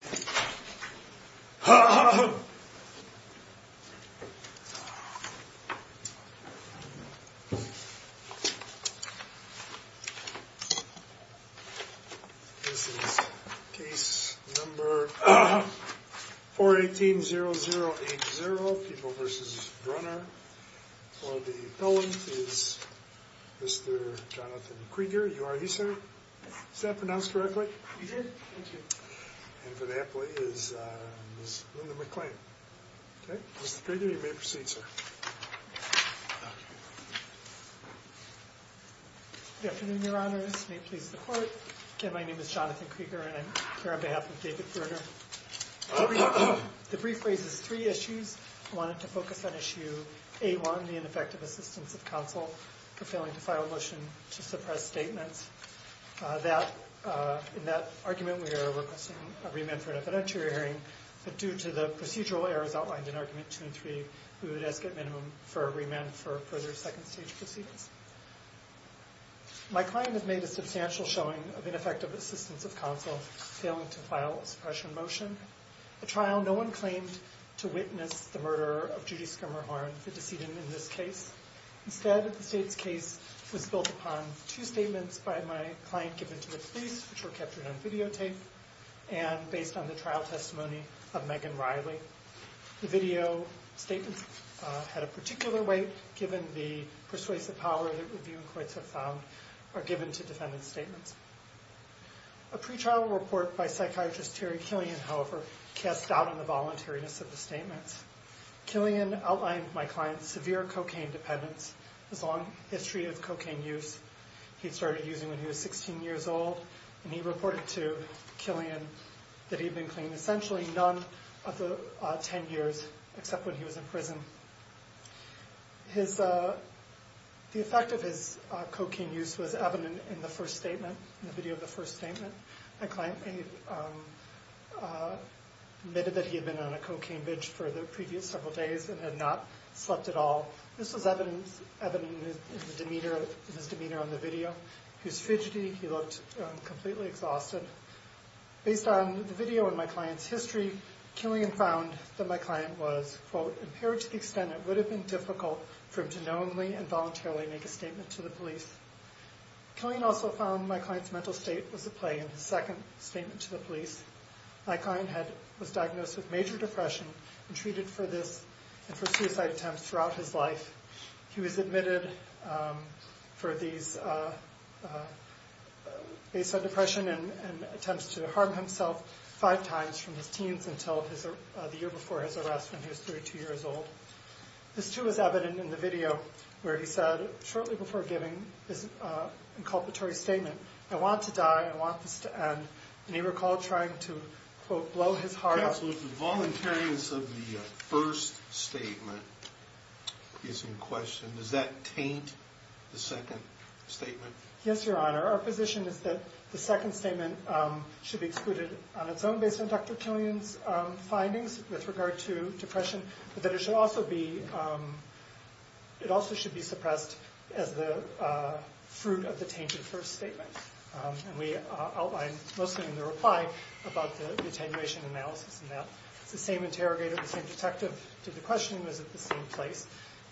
This is case number 4180080, People v. Brunner. For the appellant is Mr. Jonathan Krieger. You are here, sir? Is that pronounced correctly? And for the appellant is Ms. Linda McClain. Mr. Krieger, you may proceed, sir. Jonathan Krieger Good afternoon, your honors. May it please the court? My name is Jonathan Krieger and I'm here on behalf of David Brunner. The brief raises three issues. I wanted to focus on issue A1, the ineffective assistance of counsel for failing to file a motion to suppress statements. In that argument, we are requesting a remand for an evidentiary hearing, but due to the procedural errors outlined in argument 2 and 3, we would ask at minimum for a remand for further second stage proceedings. My client has made a substantial showing of ineffective assistance of counsel failing to file a suppression motion, a trial no one claimed to witness the murderer of Judy Skimmerhorn, the decedent in this case. Instead, the state's case was built upon two statements by my client given to the police, which were captured on videotape, and based on the trial testimony of Megan Riley. The video statements had a particular weight given the persuasive power that review and courts have found are given to defendant's statements. A pre-trial report by psychiatrist Terry Killian, however, cast doubt on the voluntariness of the statements. Killian outlined to my client severe cocaine dependence, his long history of cocaine use. He started using when he was 16 years old, and he reported to Killian that he had been clean essentially none of the 10 years except when he was in prison. The effect of his cocaine use was evident in the first statement, in the video of the first statement. My client admitted that he had been on a cocaine binge for the previous several days and had not slept at all. This was evident in his demeanor on the video. He was fidgety. He looked completely exhausted. Based on the video and my client's history, Killian found that my client was, quote, impaired to the extent it would have been difficult for him to knowingly and voluntarily make a statement to the police. Killian also found my client's mental state was at play in his second statement to the police. My client was diagnosed with major depression and treated for this and for suicide attempts throughout his life. He was admitted for these based on depression and attempts to harm himself five times from his teens until the year before his arrest when he was 32 years old. This, too, is evident in the video where he said, shortly before giving his inculpatory statement, I want to die. I want this to end. And he recalled trying to, quote, blow his heart out. Counsel, if the voluntariness of the first statement is in question, does that taint the second statement? Yes, Your Honor. Our position is that the second statement should be excluded on its own based on Dr. Killian's findings with regard to depression, but that it also should be suppressed as the fruit of the tainted first statement. And we outline, mostly in the reply, about the attenuation analysis in that. It's the same interrogator, the same detective did the questioning, was at the same place.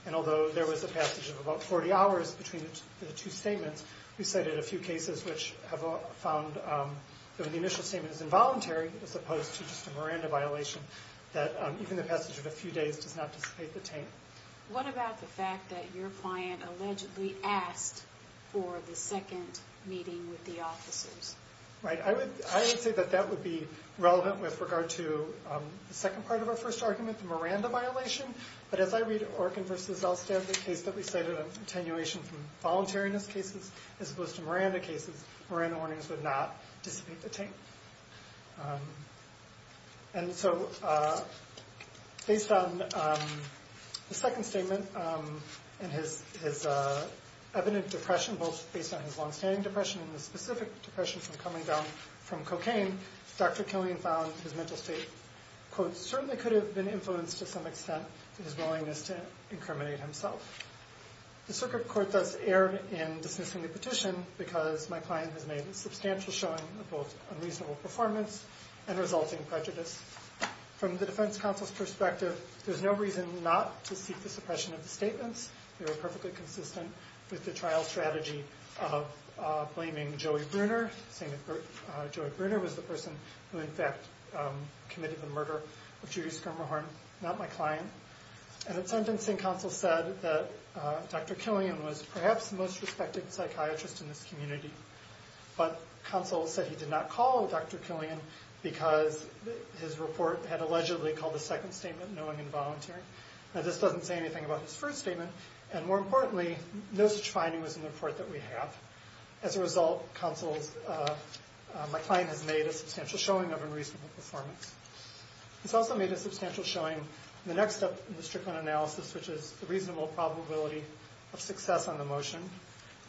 And although there was a passage of about 40 hours between the two statements, we cited a few cases which have found that when the initial statement is involuntary as opposed to just a Miranda violation, that even the passage of a few days does not dissipate the taint. What about the fact that your client allegedly asked for the second meeting with the officers? Right. I would say that that would be relevant with regard to the second part of our first argument, the Miranda violation. But as I read Orkin v. Elstad, the case that we cited of attenuation from voluntariness cases as opposed to Miranda cases, Miranda warnings would not dissipate the taint. And so based on the second statement and his evident depression, both based on his long-standing depression and the specific depression from coming down from cocaine, Dr. Killian found his mental state, quote, certainly could have been influenced to some extent in his willingness to incriminate himself. The circuit court does err in dismissing the petition because my client has made a substantial showing of both unreasonable performance and resulting prejudice. From the defense counsel's perspective, there's no reason not to seek the suppression of the statements. They were perfectly consistent with the trial strategy of blaming Joey Bruner, saying that Joey Bruner was the person who, in fact, committed the murder of Judy Skirmerhorn, not my client. And the sentencing counsel said that Dr. Killian was perhaps the most respected psychiatrist in this community. But counsel said he did not call Dr. Killian because his report had allegedly called the second statement, knowing and volunteering. Now, this doesn't say anything about his first statement. And more importantly, no such finding was in the report that we have. As a result, counsel's, my client has made a substantial showing of unreasonable performance. He's also made a substantial showing in the next step in the Strickland analysis, which is the reasonable probability of success on the motion.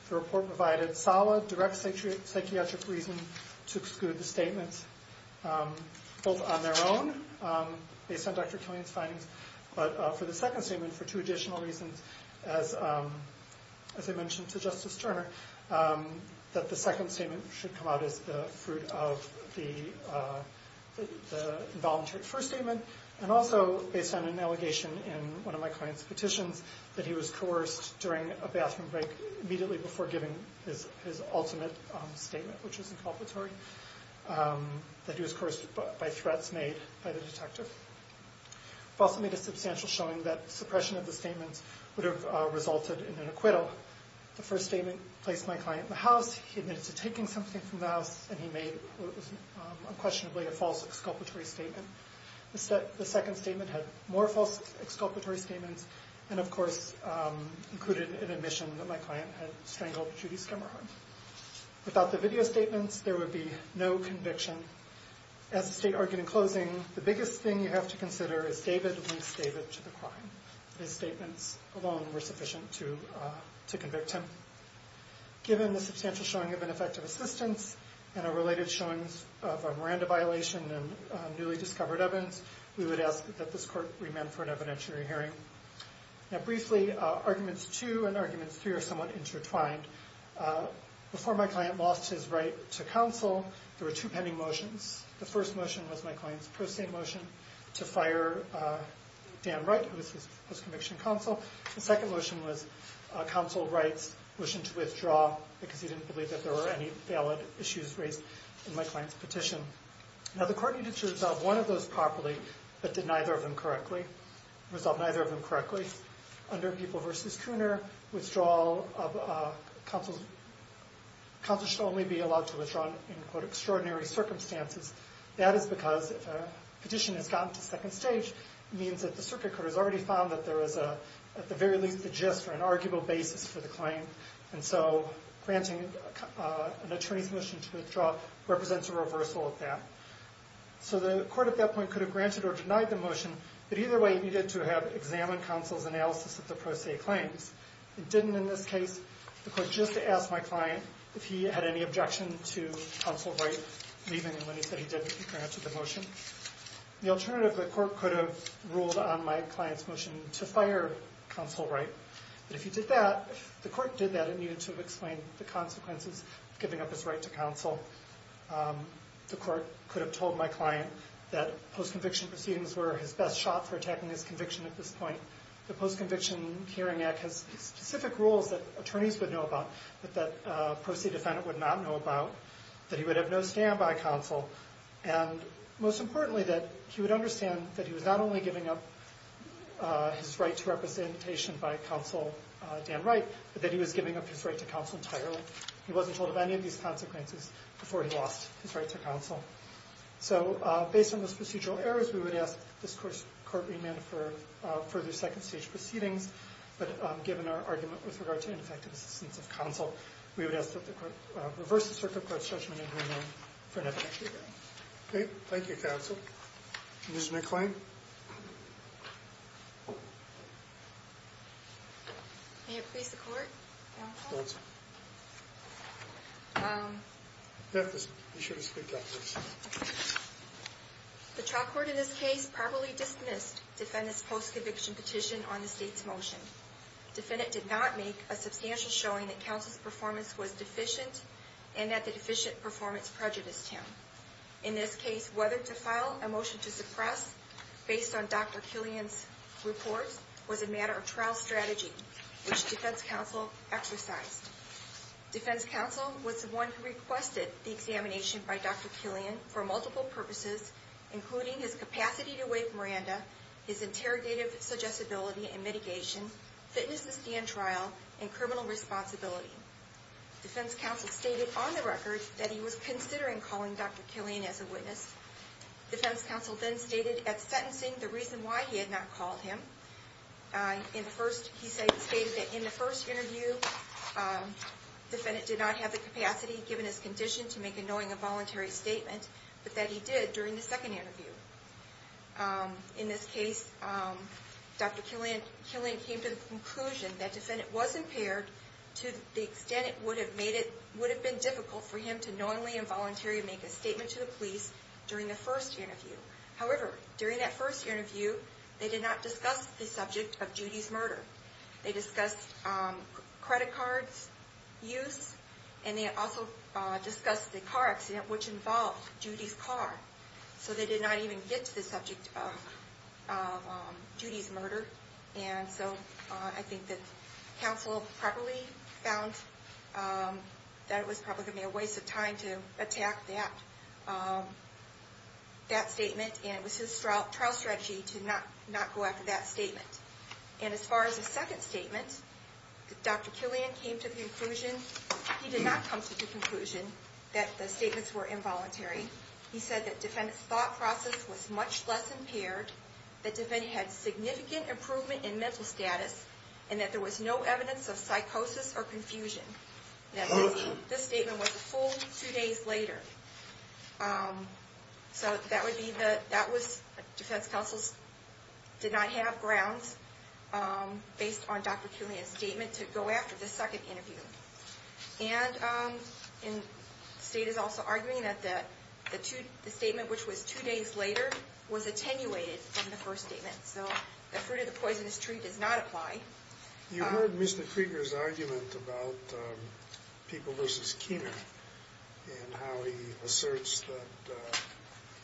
The report provided solid, direct psychiatric reason to exclude the statements, both on their own, based on Dr. Killian's findings, but for the second statement, for two additional reasons, as I mentioned to Justice Turner, that the second statement should come out as the fruit of the involuntary first statement. And also, based on an allegation in one of my client's petitions, that he was coerced during a bathroom break, immediately before giving his ultimate statement, which was inculpatory, that he was coerced by threats made by the detective. He also made a substantial showing that suppression of the statements would have resulted in an acquittal. The first statement placed my client in the house. He admitted to taking something from the house. And he made what was unquestionably a false exculpatory statement. The second statement had more false exculpatory statements and, of course, included an admission that my client had strangled Judy Skimmerhard. Without the video statements, there would be no conviction. As the state argued in closing, the biggest thing you have to consider is David links David to the crime. His statements alone were sufficient to convict him. Given the substantial showing of ineffective assistance and a related showing of a Miranda violation in newly discovered evidence, we would ask that this court remand for an evidentiary hearing. Now, briefly, arguments two and arguments three are somewhat intertwined. Before my client lost his right to counsel, there were two pending motions. The first motion was my client's pro se motion to fire Dan Wright, who was his conviction counsel. The second motion was counsel Wright's motion to withdraw, because he didn't believe that there were any valid issues raised in my client's petition. Now, the court needed to resolve one of those properly, but did neither of them correctly. Resolved neither of them correctly. Under People v. Cooner, withdrawal of counsel should only be allowed to withdraw in, quote, extraordinary circumstances. That is because if a petition has gotten to second stage, it means that the circuit court has already found that there is, at the very least, the gist or an arguable basis for the claim. And so granting an attorney's motion to withdraw represents a reversal of that. So the court at that point could have granted or denied the motion, but either way it needed to have examined counsel's analysis of the pro se claims. It didn't in this case. The court just asked my client if he had any objection to counsel Wright leaving, and when he said he did, he granted the motion. The alternative, the court could have ruled on my client's motion to fire counsel Wright. But if he did that, if the court did that, it needed to have explained the consequences of giving up his right to counsel. The court could have told my client that post-conviction proceedings were his best shot for attacking his conviction at this point. The Post-Conviction Hearing Act has specific rules that attorneys would know about that a pro se defendant would not know about, that he would have no stand by counsel. And most importantly, that he would understand that he was not only giving up his right to representation by counsel Dan Wright, but that he was giving up his right to counsel entirely. He wasn't told of any of these consequences before he lost his right to counsel. So based on those procedural errors, we would ask this court remand for further second stage proceedings. But given our argument with regard to ineffective assistance of counsel, we would ask that the court reverse the circuit court's judgment and remand for an effective hearing. Thank you, counsel. Ms. McClain? May it please the court, counsel? Go ahead, sir. You have to be sure to speak up, please. The trial court in this case properly dismissed defendant's post-conviction petition on the state's motion. Defendant did not make a substantial showing that counsel's performance was deficient and that the deficient performance prejudiced him. In this case, whether to file a motion to suppress based on Dr. Killian's report was a matter of trial strategy, which defense counsel exercised. Defense counsel was the one who requested the examination by Dr. Killian for multiple purposes, including his capacity to wake Miranda, his interrogative suggestibility and mitigation, fitness to stand trial, and criminal responsibility. Defense counsel stated on the record that he was considering calling Dr. Killian as a witness. Defense counsel then stated at sentencing the reason why he had not called him. He stated that in the first interview, defendant did not have the capacity, given his condition, to make a knowing and voluntary statement, but that he did during the second interview. In this case, Dr. Killian came to the conclusion that defendant was impaired to the extent it would have been difficult for him to knowingly and voluntarily make a statement to the police during the first interview. However, during that first interview, they did not discuss the subject of Judy's murder. They discussed credit cards use, and they also discussed the car accident, which involved Judy's car. So they did not even get to the subject of Judy's murder. And so I think that counsel probably found that it was probably going to be a waste of time to attack that statement, and it was his trial strategy to not go after that statement. And as far as the second statement, Dr. Killian came to the conclusion, he did not come to the conclusion that the statements were involuntary. He said that defendant's thought process was much less impaired, that defendant had significant improvement in mental status, and that there was no evidence of psychosis or confusion. This statement was a full two days later. So that was defense counsel's did not have grounds based on Dr. Killian's statement to go after the second interview. And the state is also arguing that the statement, which was two days later, was attenuated from the first statement. So the fruit of the poisonous tree does not apply. You heard Mr. Krieger's argument about People v. Keener and how he asserts that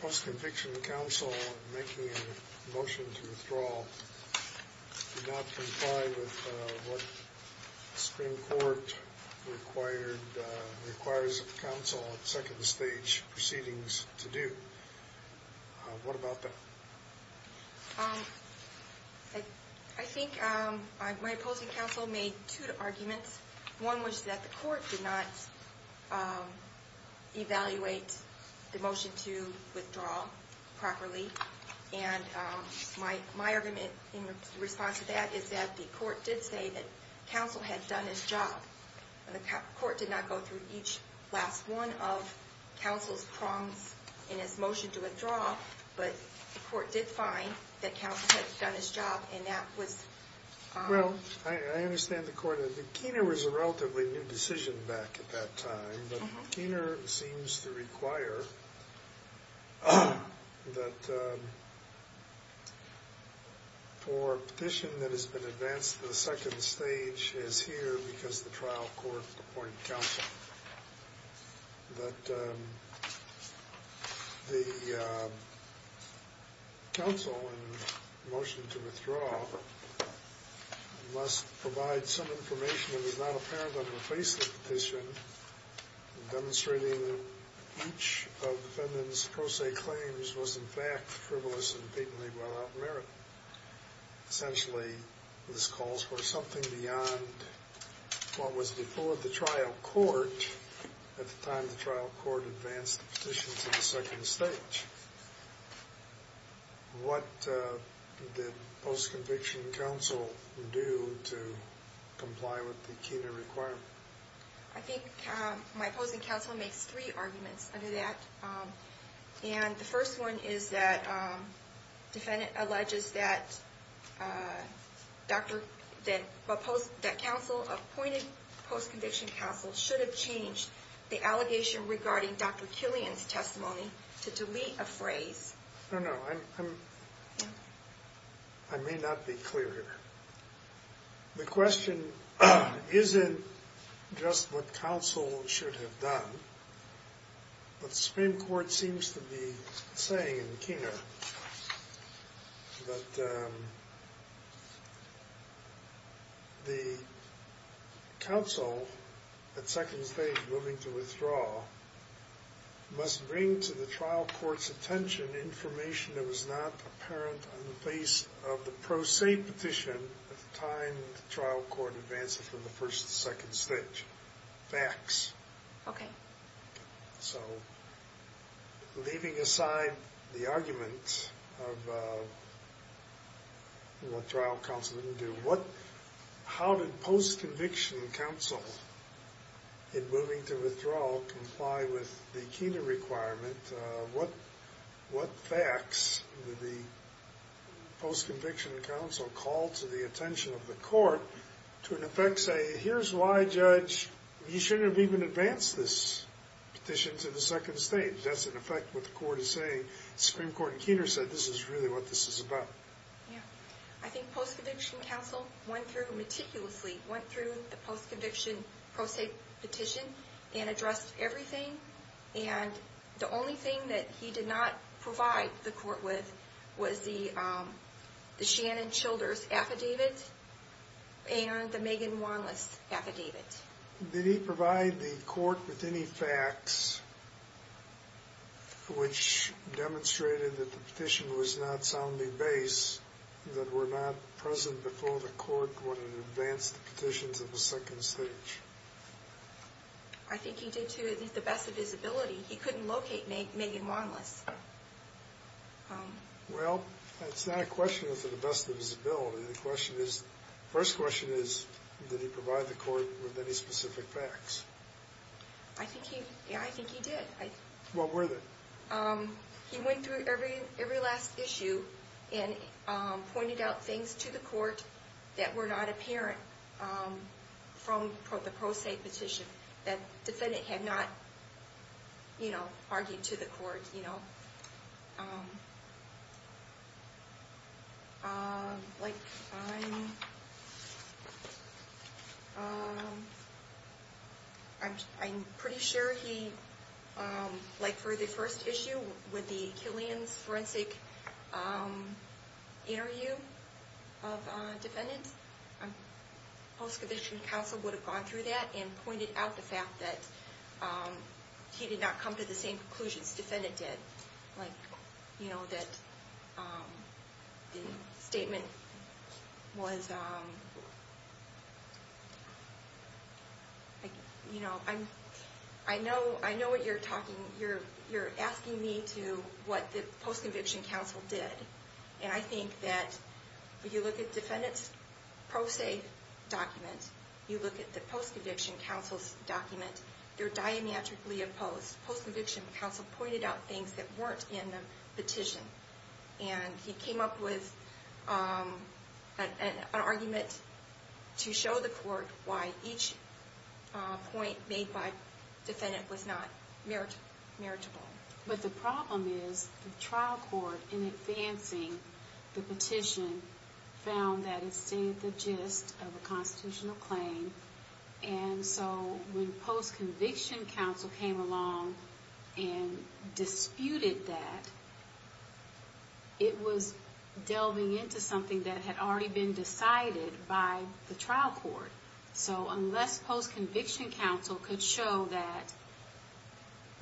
post-conviction counsel making a motion to withdraw did not comply with what Supreme Court requires of counsel at second stage proceedings to do. What about that? I think my opposing counsel made two arguments. One was that the court did not evaluate the motion to withdraw properly. And my argument in response to that is that the court did say that counsel had done his job. And the court did not go through each last one of counsel's prongs in his motion to withdraw. But the court did find that counsel had done his job, and that was... Well, I understand the court. Keener was a relatively new decision back at that time. But Keener seems to require that for a petition that has been advanced to the second stage, which is here because the trial court appointed counsel, that the counsel in motion to withdraw must provide some information that is not apparent on the face of the petition demonstrating that each of the defendant's pro se claims was in fact frivolous and patently without merit. Essentially, this calls for something beyond what was before the trial court at the time the trial court advanced the petition to the second stage. What did post-conviction counsel do to comply with the Keener requirement? I think my opposing counsel makes three arguments under that. And the first one is that the defendant alleges that counsel appointed post-conviction counsel should have changed the allegation regarding Dr. Killian's testimony to delete a phrase. No, no. I may not be clear here. The question isn't just what counsel should have done, but the Supreme Court seems to be saying in Keener that the counsel at second stage moving to withdraw must bring to the trial court's attention information that was not apparent on the face of the pro se petition at the time the trial court advanced it from the first to second stage. Facts. Okay. So, leaving aside the argument of what trial counsel didn't do, how did post-conviction counsel in moving to withdraw comply with the Keener requirement? What facts did the post-conviction counsel call to the attention of the court to in effect say, here's why, judge, you shouldn't have even advanced this petition to the second stage? That's in effect what the court is saying. Supreme Court in Keener said this is really what this is about. I think post-conviction counsel went through meticulously, went through the post-conviction pro se petition and addressed everything. And the only thing that he did not provide the court with was the Shannon Childers affidavit. And the Megan Wanless affidavit. Did he provide the court with any facts which demonstrated that the petition was not soundly based, that were not present before the court when it advanced the petition to the second stage? I think he did to the best of his ability. He couldn't locate Megan Wanless. Well, that's not a question for the best of his ability. The first question is, did he provide the court with any specific facts? I think he did. What were they? He went through every last issue and pointed out things to the court that were not apparent from the pro se petition I'm pretty sure he, like for the first issue with the Killian's forensic interview of defendants, post-conviction counsel would have gone through that and pointed out the fact that he did not come to the same conclusions the defendant did. Like, you know, that the statement was, you know, I know what you're talking, you're asking me to what the post-conviction counsel did. And I think that if you look at the defendant's pro se document, you look at the post-conviction counsel's document, they're diametrically opposed. Post-conviction counsel pointed out things that weren't in the petition. And he came up with an argument to show the court why each point made by the defendant was not meritable. But the problem is the trial court, in advancing the petition, found that it stayed the gist of a constitutional claim. And so when post-conviction counsel came along and disputed that, it was delving into something that had already been decided by the trial court. So unless post-conviction counsel could show that,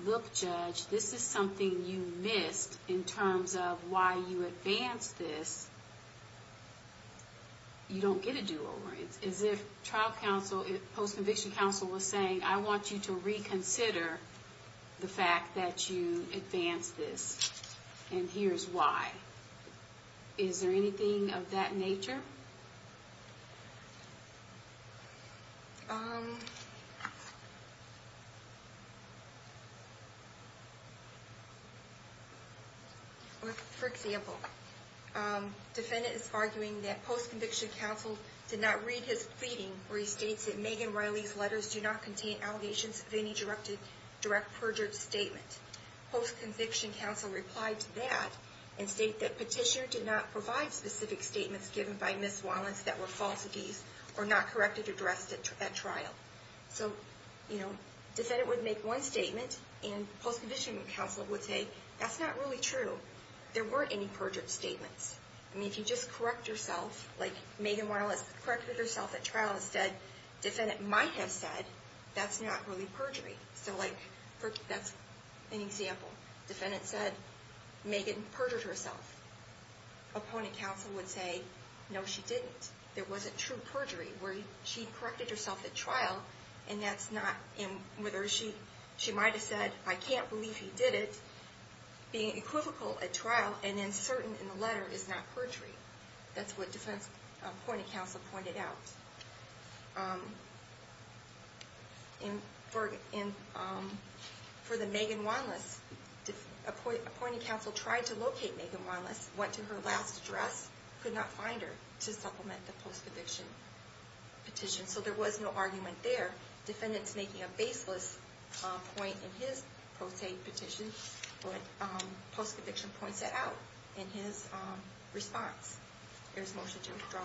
look, judge, this is something you missed in terms of why you advanced this, you don't get a do-over. It's as if post-conviction counsel was saying, I want you to reconsider the fact that you advanced this, and here's why. Is there anything of that nature? For example, defendant is arguing that post-conviction counsel did not read his pleading where he states that Megan Riley's letters do not contain allegations of any direct perjured statement. Post-conviction counsel replied to that and stated that petitioner did not provide specific statements given by Ms. Wallens that were false of these or not corrected or addressed at trial. So defendant would make one statement, and post-conviction counsel would say, that's not really true. There weren't any perjured statements. I mean, if you just correct yourself, like Megan Riley corrected herself at trial and said, defendant might have said, that's not really perjury. So like, that's an example. Defendant said, Megan perjured herself. Opponent counsel would say, no she didn't. There wasn't true perjury where she corrected herself at trial, and that's not, she might have said, I can't believe he did it. Being equivocal at trial and uncertain in the letter is not perjury. That's what defendant's point of counsel pointed out. For the Megan Wallens, appointing counsel tried to locate Megan Wallens, went to her last address, could not find her to supplement the post-conviction petition. So there was no argument there. Defendant's making a baseless point in his post-safe petition, but post-conviction points it out in his response. There's motion to withdraw.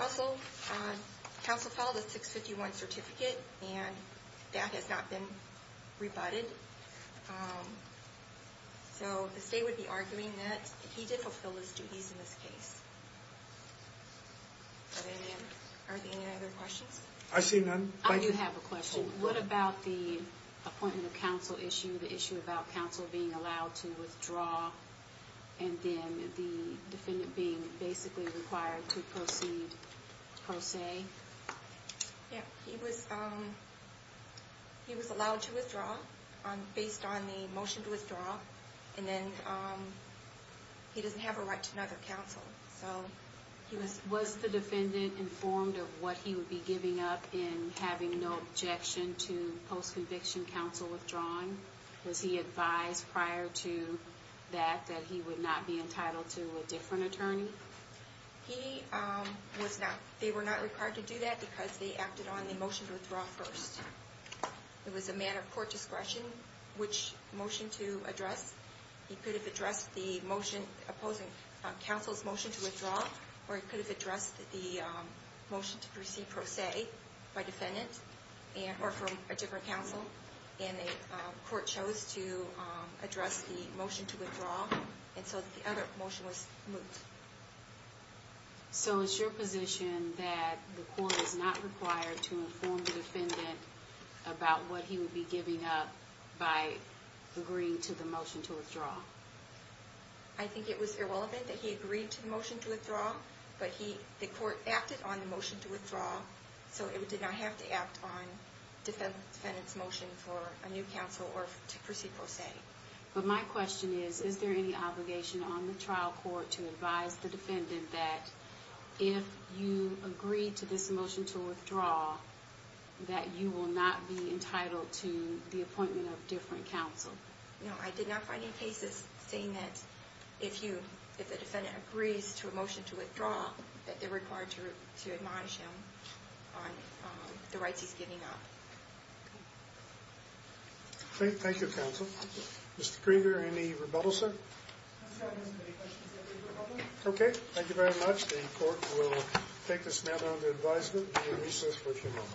Also, counsel filed a 651 certificate, and that has not been rebutted. So the state would be arguing that he did fulfill his duties in this case. Are there any other questions? I see none. I do have a question. What about the appointment of counsel issue, the issue about counsel being allowed to withdraw, and then the defendant being basically required to proceed pro se? Yeah, he was allowed to withdraw based on the motion to withdraw, and then he doesn't have a right to another counsel. Was the defendant informed of what he would be giving up in having no objection to post-conviction counsel withdrawing? Was he advised prior to that that he would not be entitled to a different attorney? He was not. They were not required to do that because they acted on the motion to withdraw first. It was a matter of court discretion which motion to address. He could have addressed the motion opposing counsel's motion to withdraw, or he could have addressed the motion to proceed pro se by defendant or from a different counsel, and the court chose to address the motion to withdraw, and so the other motion was moved. So it's your position that the court is not required to inform the defendant about what he would be giving up by agreeing to the motion to withdraw? I think it was irrelevant that he agreed to the motion to withdraw, but the court acted on the motion to withdraw, so it did not have to act on the defendant's motion for a new counsel or to proceed pro se. But my question is, is there any obligation on the trial court to advise the defendant that if you agree to this motion to withdraw, that you will not be entitled to the appointment of a different counsel? No, I did not find any cases saying that if the defendant agrees to a motion to withdraw, that they're required to admonish him on the rights he's giving up. Thank you, counsel. Mr. Krieger, any rebuttal, sir? Okay, thank you very much. The court will take this matter under advisement and recess for a few moments.